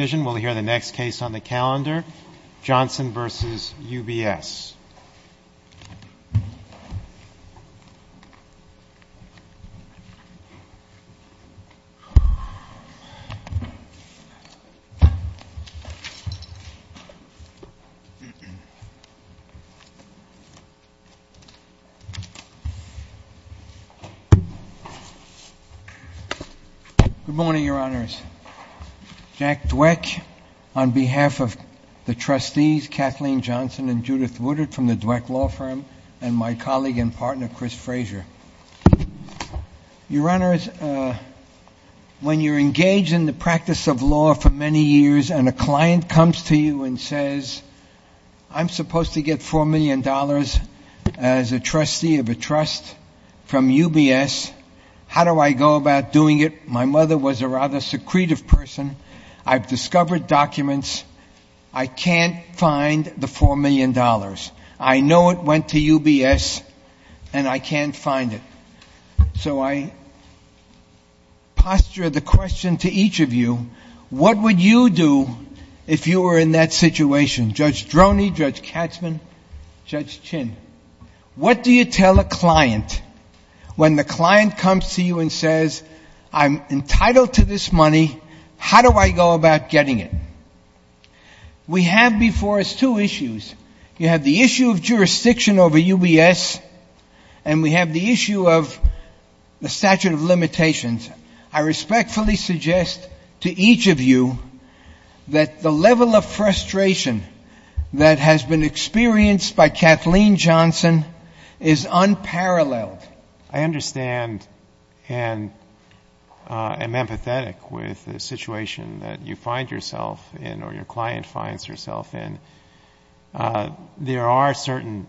We'll hear the next case on the calendar, Johnson v. UBS. Good morning, Your Honors. Jack Dweck on behalf of the trustees, Kathleen Johnson and Judith Woodard from the Dweck Law Firm, and my colleague and partner, Chris Frazier. Your Honors, when you're engaged in the practice of law for many years and a client comes to you and says, I'm supposed to get $4 million as a trustee of a trust from UBS. How do I go about doing it? My mother was a rather secretive person. I've discovered documents. I can't find the $4 million. I know it went to UBS and I can't find it. So I posture the question to each of you, what would you do if you were in that situation? Judge Droney, Judge Katzman, Judge Chin, what do you tell a client when the client comes to you and says, I'm entitled to this money. How do I go about getting it? We have before us two issues. You have the issue of jurisdiction over UBS and we have the issue of the statute of limitations. I respectfully suggest to each of you that the level of frustration that has been experienced by Kathleen Johnson is unparalleled. But I understand and am empathetic with the situation that you find yourself in or your client finds yourself in. There are certain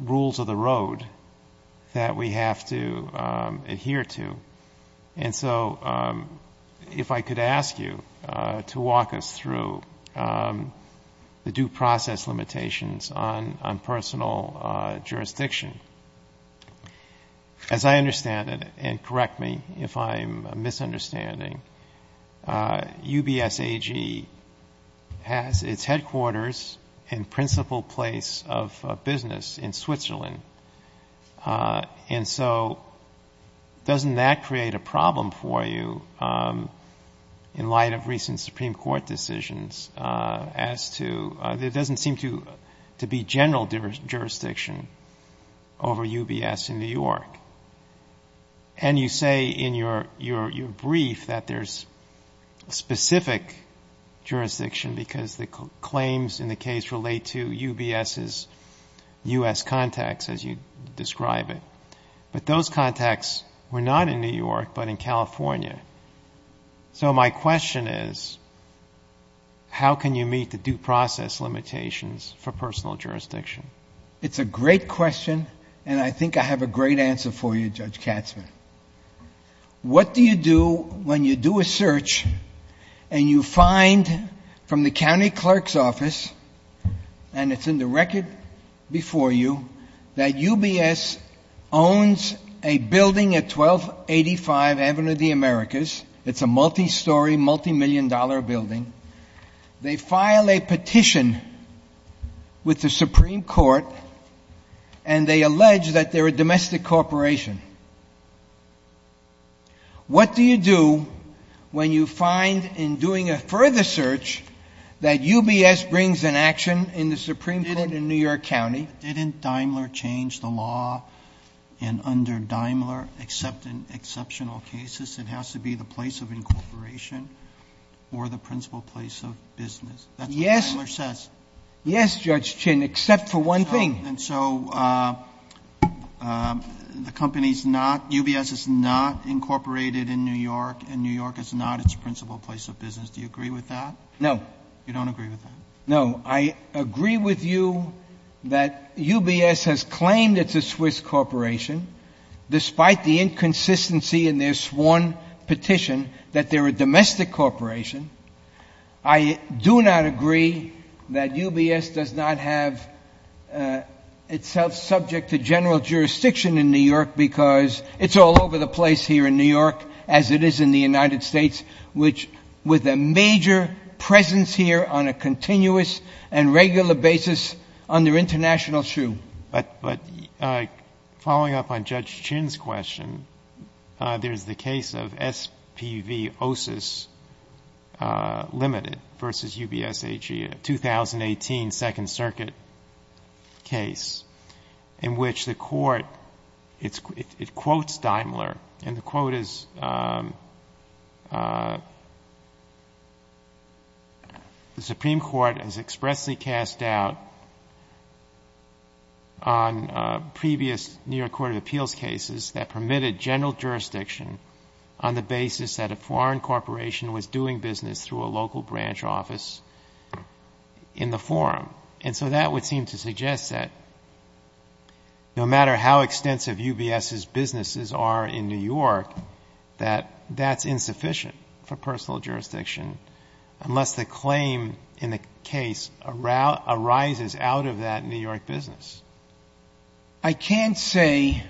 rules of the road that we have to adhere to. And so if I could ask you to walk us through the due process limitations on personal jurisdiction. As I understand it, and correct me if I'm misunderstanding, UBS AG has its headquarters in principal place of business in Switzerland. And so doesn't that create a problem for you in light of recent Supreme Court decisions as to, there doesn't seem to be general jurisdiction over UBS in New York. And you say in your brief that there's specific jurisdiction because the claims in the case relate to UBS's U.S. contacts. But those contacts were not in New York but in California. So my question is, how can you meet the due process limitations for personal jurisdiction? It's a great question and I think I have a great answer for you, Judge Katzman. What do you do when you do a search and you find from the county clerk's office, and it's in the record before you, that UBS owns a building at 1285 Avenue of the Americas. It's a multi-story, multi-million dollar building. They file a petition with the Supreme Court and they allege that they're a domestic corporation. What do you do when you find in doing a further search that UBS brings an action in the Supreme Court in New York County? Didn't Daimler change the law in under Daimler except in exceptional cases? It has to be the place of incorporation or the principal place of business. That's what Daimler says. Yes, Judge Chin, except for one thing. And so the company's not, UBS is not incorporated in New York and New York is not its principal place of business. Do you agree with that? No. You don't agree with that? No, I agree with you that UBS has claimed it's a Swiss corporation, despite the inconsistency in their sworn petition that they're a domestic corporation. I do not agree that UBS does not have itself subject to general jurisdiction in New York because it's all over the place here in New York, as it is in the United States, which with a major presence here on a continuous and regular basis under international shoe. But following up on Judge Chin's question, there's the case of SPV OSIS Limited versus UBS AG, a 2018 Second Circuit case in which the court, it quotes Daimler, and the quote is, the Supreme Court has expressly cast doubt on previous New York Court of Appeals cases that permitted general jurisdiction on the basis that a foreign corporation was doing business through a local branch office in the forum. And so that would seem to suggest that no matter how extensive UBS's businesses are in New York, that that's insufficient for personal jurisdiction unless the claim in the case arises out of that New York business. I can't say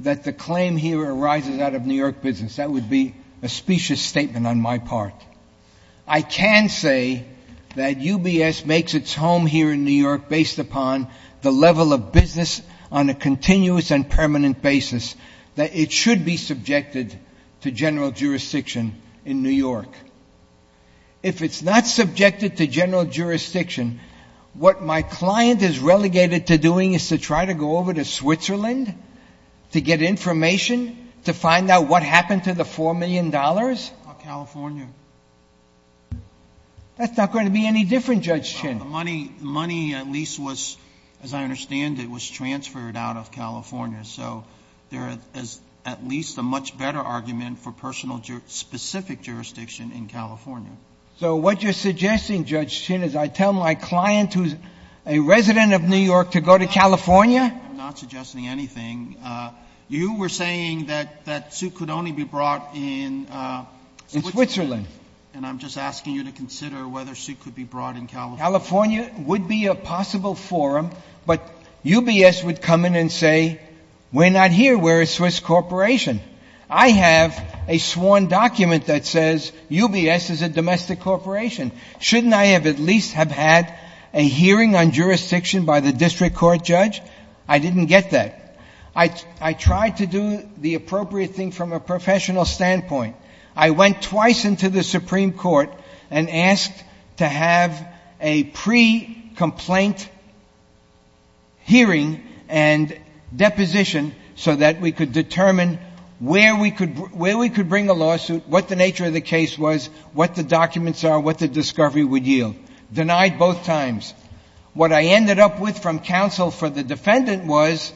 that the claim here arises out of New York business. That would be a specious statement on my part. I can say that UBS makes its home here in New York based upon the level of business on a continuous and permanent basis that it should be subjected to general jurisdiction in New York. If it's not subjected to general jurisdiction, what my client is relegated to doing is to try to go over to Switzerland to get information, to find out what happened to the $4 million? That's not going to be any different, Judge Chin. Money at least was, as I understand it, was transferred out of California. So there is at least a much better argument for personal specific jurisdiction in California. So what you're suggesting, Judge Chin, is I tell my client who's a resident of New York to go to California? I'm not suggesting anything. You were saying that that suit could only be brought in Switzerland. And I'm just asking you to consider whether a suit could be brought in California. California would be a possible forum, but UBS would come in and say, we're not here, we're a Swiss corporation. I have a sworn document that says UBS is a domestic corporation. Shouldn't I have at least have had a hearing on jurisdiction by the district court, Judge? I didn't get that. I tried to do the appropriate thing from a professional standpoint. I went twice into the Supreme Court and asked to have a pre-complaint hearing and deposition so that we could determine where we could bring a lawsuit, what the nature of the case was, what the documents are, what the discovery would yield. Denied both times. What I ended up with from counsel for the defendant was,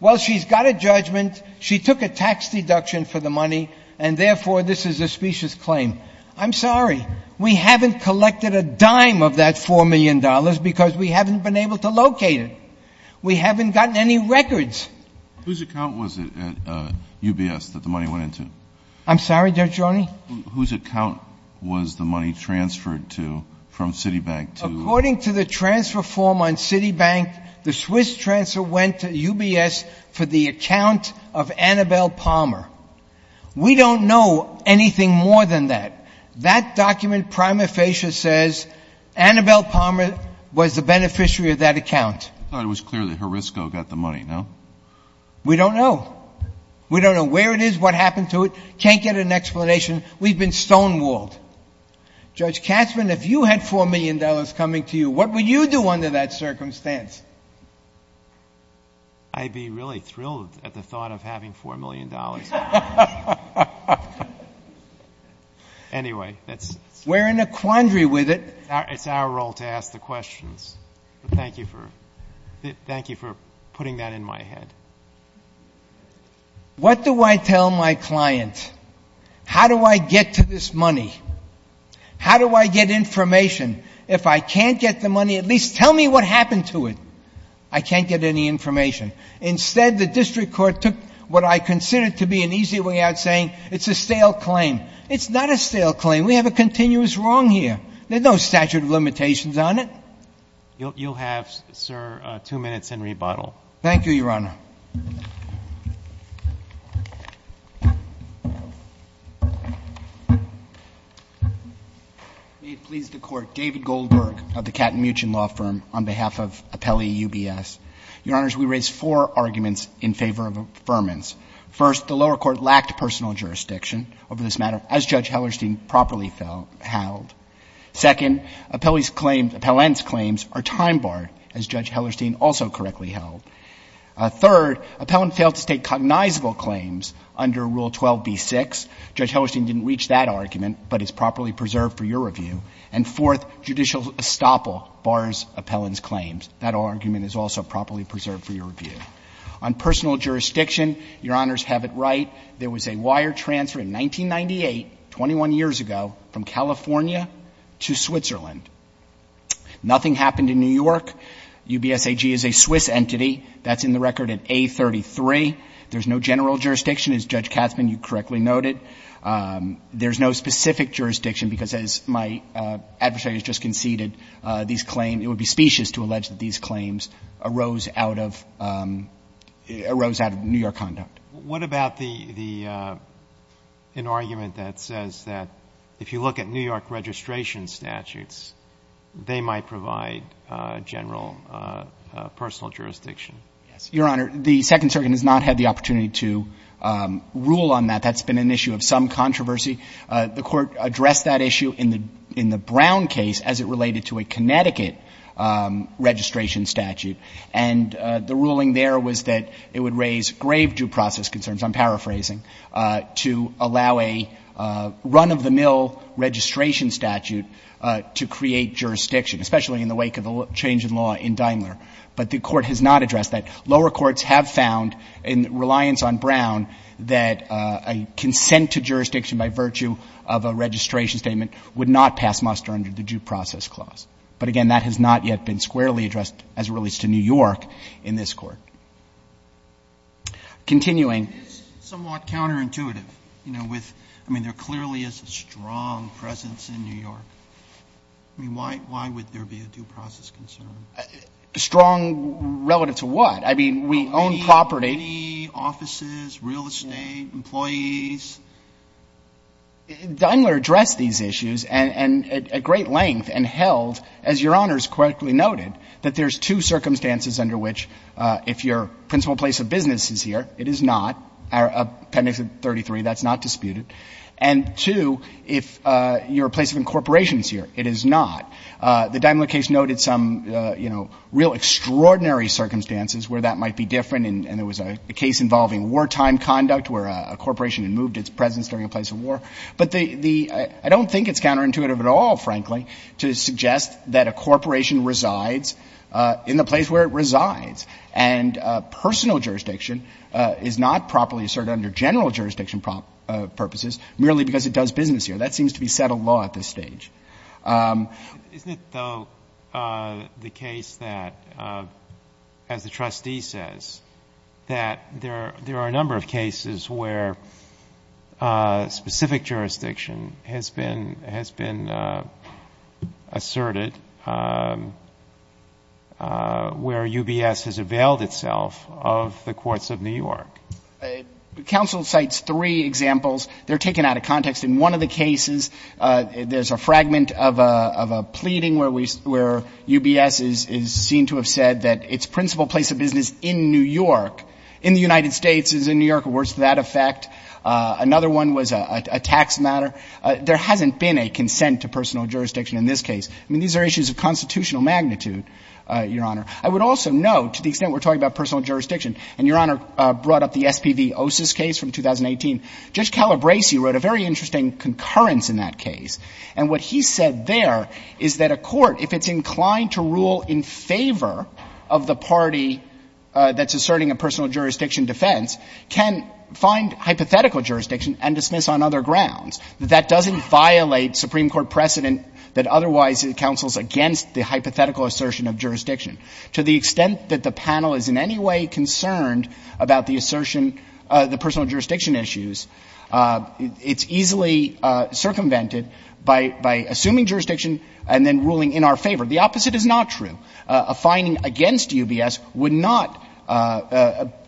well, she's got a judgment, she took a tax deduction for the money, and therefore, this is a specious claim. I'm sorry. We haven't collected a dime of that $4 million because we haven't been able to locate it. We haven't gotten any records. Whose account was it at UBS that the money went into? I'm sorry, Judge Roney? Whose account was the money transferred to from Citibank to the UBS? According to the transfer form on Citibank, the Swiss transfer went to UBS for the account of Annabelle Palmer. We don't know anything more than that. That document prima facie says Annabelle Palmer was the beneficiary of that account. I thought it was clear that Horisco got the money, no? We don't know. We don't know where it is, what happened to it. Can't get an explanation. We've been stonewalled. Judge Katzmann, if you had $4 million coming to you, what would you do under that circumstance? I'd be really thrilled at the thought of having $4 million. Anyway, that's... We're in a quandary with it. It's our role to ask the questions. Thank you for putting that in my head. What do I tell my client? How do I get to this money? How do I get information? If I can't get the money, at least tell me what happened to it. I can't get any information. Instead, the district court took what I consider to be an easy way out, saying it's a stale claim. It's not a stale claim. We have a continuous wrong here. There's no statute of limitations on it. You'll have, sir, two minutes and rebuttal. Thank you, Your Honor. May it please the Court, David Goldberg of the Katten-Muchin Law Firm on behalf of Appellee UBS. Your Honors, we raise four arguments in favor of affirmance. First, the lower court lacked personal jurisdiction over this matter, as Judge Hellerstein properly held. Second, Appellee's claims, are time barred, as Judge Hellerstein also correctly held. Third, Appellant failed to state cognizable claims under Rule 12b-6. Judge Hellerstein didn't reach that argument, but it's properly preserved for your review. And fourth, judicial estoppel bars Appellant's claims. That argument is also properly preserved for your review. On personal jurisdiction, Your Honors have it right. There was a wire transfer in 1998, 21 years ago, from California to Switzerland. Nothing happened in New York. UBS AG is a Swiss entity. That's in the record at A33. There's no general jurisdiction, as Judge Katzmann, you correctly noted. There's no specific jurisdiction, because as my adversaries just conceded, these claims, it would be specious to allege that these claims arose out of New York What about the argument that says that if you look at New York registration statutes, they might provide general personal jurisdiction? Your Honor, the Second Circuit has not had the opportunity to rule on that. That's been an issue of some controversy. The Court addressed that issue in the Brown case as it related to a Connecticut registration statute. And the ruling there was that it would raise grave due process concerns, I'm paraphrasing, to allow a run-of-the-mill registration statute to create jurisdiction, especially in the wake of the change in law in Daimler. But the Court has not addressed that. Lower courts have found, in reliance on Brown, that a consent to jurisdiction by virtue of a registration statement would not pass muster under the Due Process Clause. But again, that has not yet been squarely in this Court. Continuing. It is somewhat counterintuitive, you know, with — I mean, there clearly is a strong presence in New York. I mean, why would there be a due process concern? Strong relative to what? I mean, we own property. Property, offices, real estate, employees. Daimler addressed these issues at great length and held, as Your Honor has correctly noted, that there's two circumstances under which, if your principal place of business is here, it is not. Appendix 33, that's not disputed. And two, if your place of incorporation is here, it is not. The Daimler case noted some, you know, real extraordinary circumstances where that might be different, and there was a case involving wartime conduct where a corporation had moved its presence during a place of war. But the — I don't think it's counterintuitive at all, frankly, to suggest that a corporation resides in the place where it resides. And personal jurisdiction is not properly asserted under general jurisdiction purposes merely because it does business here. That seems to be settled law at this stage. Isn't it, though, the case that, as the trustee says, that there are a number of cases where specific jurisdiction has been — has been asserted, where UBS has availed itself of the courts of New York? Counsel cites three examples. They're taken out of context. In one of the cases, there's a fragment of a — of a pleading where we — where UBS is seen to have said that its principal place of business in New York, in the United States, is in New York, or works to that effect. Another one was a tax matter. There hasn't been a consent to personal jurisdiction in this case. I mean, these are issues of constitutional magnitude, Your Honor. I would also note, to the extent we're talking about personal jurisdiction, and Your Honor brought up the SPV OSIS case from 2018, Judge Calabresi wrote a very interesting concurrence in that case. And what he said there is that a court, if it's inclined to rule in favor of the party that's asserting a personal jurisdiction defense, can find hypothetical jurisdiction and dismiss on other grounds. That doesn't violate Supreme Court precedent that otherwise counsels against the hypothetical assertion of jurisdiction. To the extent that the panel is in any way concerned about the assertion — the personal jurisdiction issues, it's easily circumvented by — by assuming jurisdiction and then ruling in our favor. The opposite is not true. A finding against UBS would not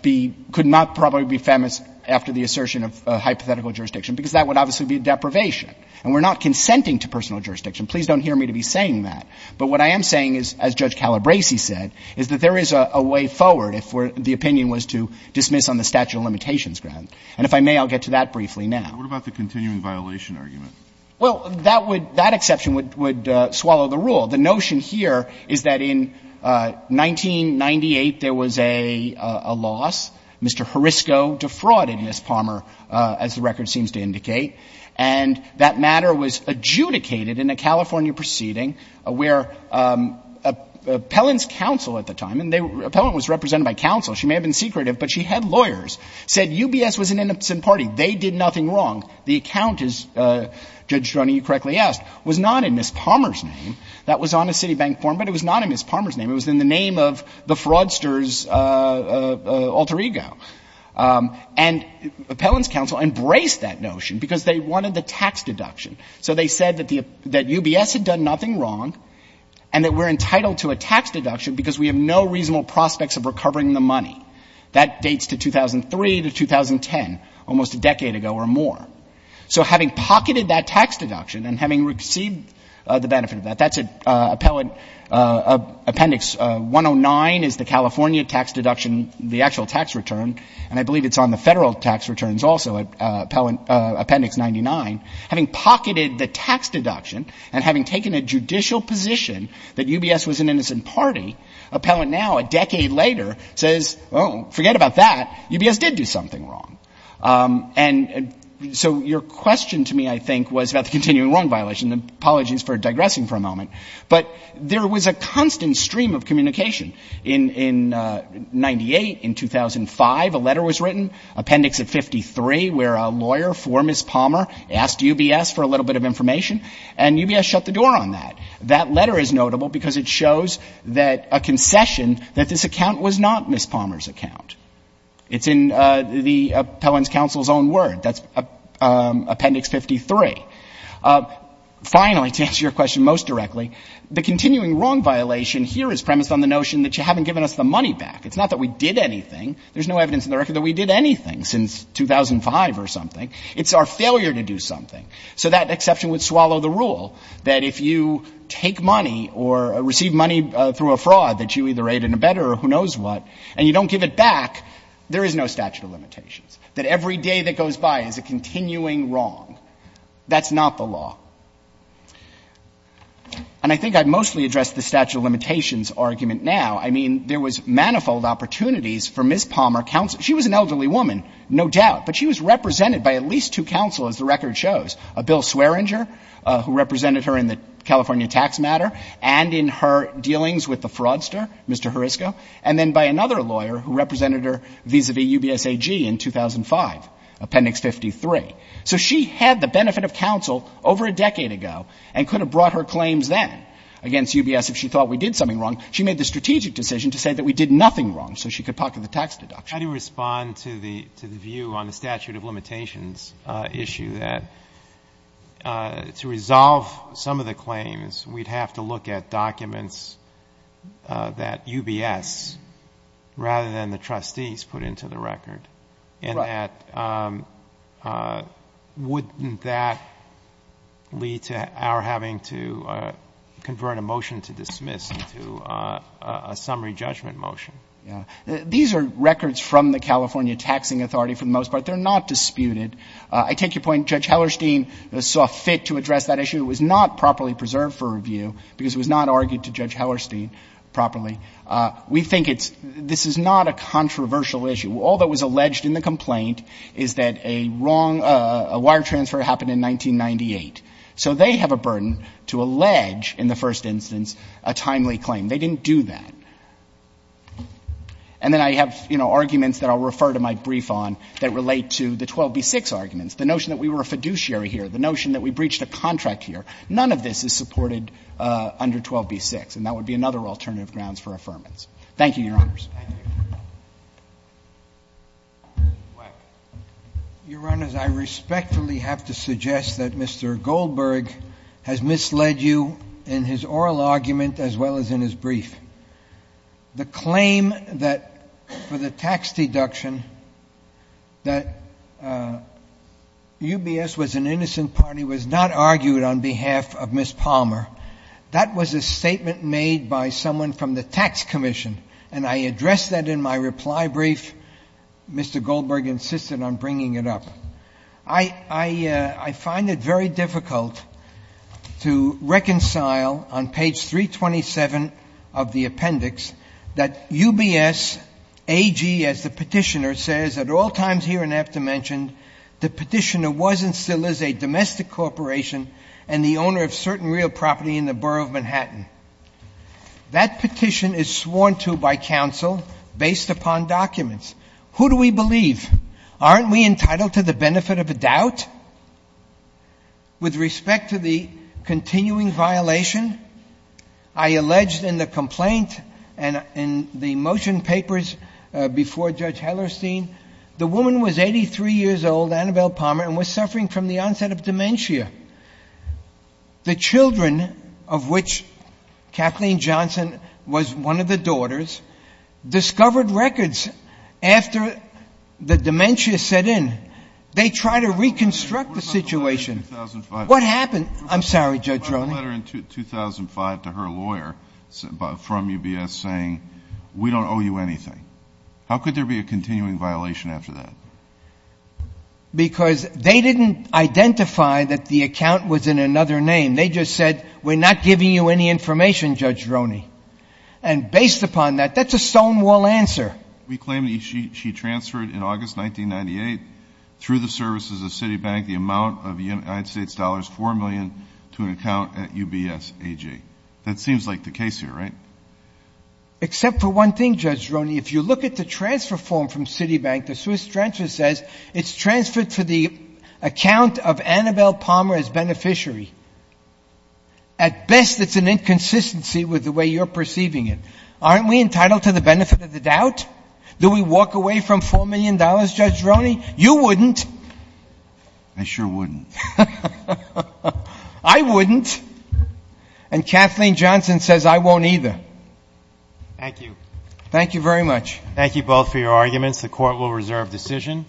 be — could not probably be famous after the assertion of hypothetical jurisdiction, because that would obviously be a deprivation. And we're not consenting to personal jurisdiction. Please don't hear me to be saying that. But what I am saying is, as Judge Calabresi said, is that there is a way forward if the opinion was to dismiss on the statute of limitations grounds. And if I may, I'll get to that briefly now. What about the continuing violation argument? Well, that would — that exception would swallow the rule. The notion here is that in 1998, there was a loss. Mr. Horisco defrauded Ms. Palmer, as the record seems to indicate. And that matter was adjudicated in a California proceeding where Appellant's counsel at the time — and Appellant was represented by counsel. She may have been secretive, but she had lawyers — said UBS was an innocent party. They did nothing wrong. The account, as Judge Stroni correctly asked, was not in Ms. Palmer's name. That was on a Citibank form, but it was not in Ms. Palmer's name. It was in the name of the fraudster's alter ego. And Appellant's counsel embraced that notion because they wanted the tax deduction. So they said that the — that UBS had done nothing wrong and that we're entitled to a tax deduction because we have no reasonable prospects of recovering the money. That dates to 2003 to 2010, almost a decade ago or more. So having pocketed that tax deduction and having received the benefit of that — that's Appellant — Appendix 109 is the California tax deduction, the actual tax return, and I believe it's on the Federal tax returns also, Appendix 99. Having pocketed the tax deduction and having taken a judicial position that UBS was an innocent party, Appellant now, a decade later, says, oh, forget about that. UBS did do something wrong. And so your question to me, I think, was about the continuing wrong violation. Apologies for digressing for a moment. But there was a constant stream of communication. In 98, in 2005, a letter was written, Appendix of 53, where a lawyer for Ms. Palmer asked UBS for a little bit of information, and UBS shut the letter down. And it shows that a concession, that this account was not Ms. Palmer's account. It's in the Appellant's counsel's own word. That's Appendix 53. Finally, to answer your question most directly, the continuing wrong violation here is premised on the notion that you haven't given us the money back. It's not that we did anything. There's no evidence in the record that we did anything since 2005 or something. It's our failure to do something. So that exception would swallow the rule that if you take money or receive money through a fraud that you either aided and abetted or who knows what, and you don't give it back, there is no statute of limitations, that every day that goes by is a continuing wrong. That's not the law. And I think I've mostly addressed the statute of limitations argument now. I mean, there was manifold opportunities for Ms. Palmer counsel. She was an elderly woman, no doubt, but she was represented by at least two counsel, as the record shows, a Bill Swearinger, who represented her in the California tax matter, and in her dealings with the fraudster, Mr. Horisco, and then by another lawyer who represented her vis-a-vis UBS AG in 2005, Appendix 53. So she had the benefit of counsel over a decade ago and could have brought her claims then against UBS if she thought we did something wrong. She made the strategic decision to say that we did nothing wrong so she could pocket the tax deduction. But how do you respond to the view on the statute of limitations issue that to resolve some of the claims, we'd have to look at documents that UBS, rather than the trustees, put into the record, and that wouldn't that lead to our having to convert a motion to dismiss into a summary judgment motion? Yeah. These are records from the California Taxing Authority for the most part. They're not disputed. I take your point, Judge Hellerstein saw fit to address that issue. It was not properly preserved for review because it was not argued to Judge Hellerstein properly. We think it's, this is not a controversial issue. All that was alleged in the complaint is that a wrong, a wire transfer happened in 1998. So they have a burden to allege, in the first instance, a timely claim. They didn't do that. And then I have, you know, arguments that I'll refer to my brief on that relate to the 12b-6 arguments, the notion that we were a fiduciary here, the notion that we breached a contract here. None of this is supported under 12b-6, and that would be another alternative grounds for affirmance. Thank you, Your Honors. Thank you. Mr. Weck. Your Honors, I respectfully have to suggest that Mr. Goldberg has misled you in his brief. The claim that, for the tax deduction, that UBS was an innocent party was not argued on behalf of Ms. Palmer. That was a statement made by someone from the tax commission, and I addressed that in my reply brief. Mr. Goldberg insisted on bringing it up. I find it very difficult to reconcile, on page 327 of the appendix, that UBS, A.G., as the petitioner, says, at all times here and after mentioned, the petitioner was and still is a domestic corporation and the owner of certain real property in the borough of Manhattan. That petition is sworn to by counsel based upon documents. Who do we believe? Aren't we entitled to the benefit of a doubt? With respect to the continuing violation, I alleged in the complaint and in the motion papers before Judge Hellerstein, the woman was 83 years old, Annabelle Palmer, and was suffering from the onset of dementia. The children, of which Kathleen Johnson was one of the daughters, discovered records after the dementia set in. They tried to reconstruct the situation. What about the letter in 2005? The letter was sent to her lawyer from UBS saying we don't owe you anything. How could there be a continuing violation after that? Because they didn't identify that the account was in another name. They just said we're not giving you any information, Judge Roney. And based upon that, that's a stonewall answer. We claim that she transferred in August 1998 through the services of Citibank the amount of United States dollars, $4 million, to an account at UBS AG. That seems like the case here, right? Except for one thing, Judge Roney. If you look at the transfer form from Citibank, the Swiss transfer says it's transferred for the account of Annabelle Palmer as beneficiary. At best, it's an inconsistency with the way you're perceiving it. Aren't we entitled to the benefit of the doubt? Do we walk away from $4 million, Judge Roney? You wouldn't. I sure wouldn't. I wouldn't. And Kathleen Johnson says I won't either. Thank you. Thank you very much. Thank you both for your arguments. The Court will reserve decision.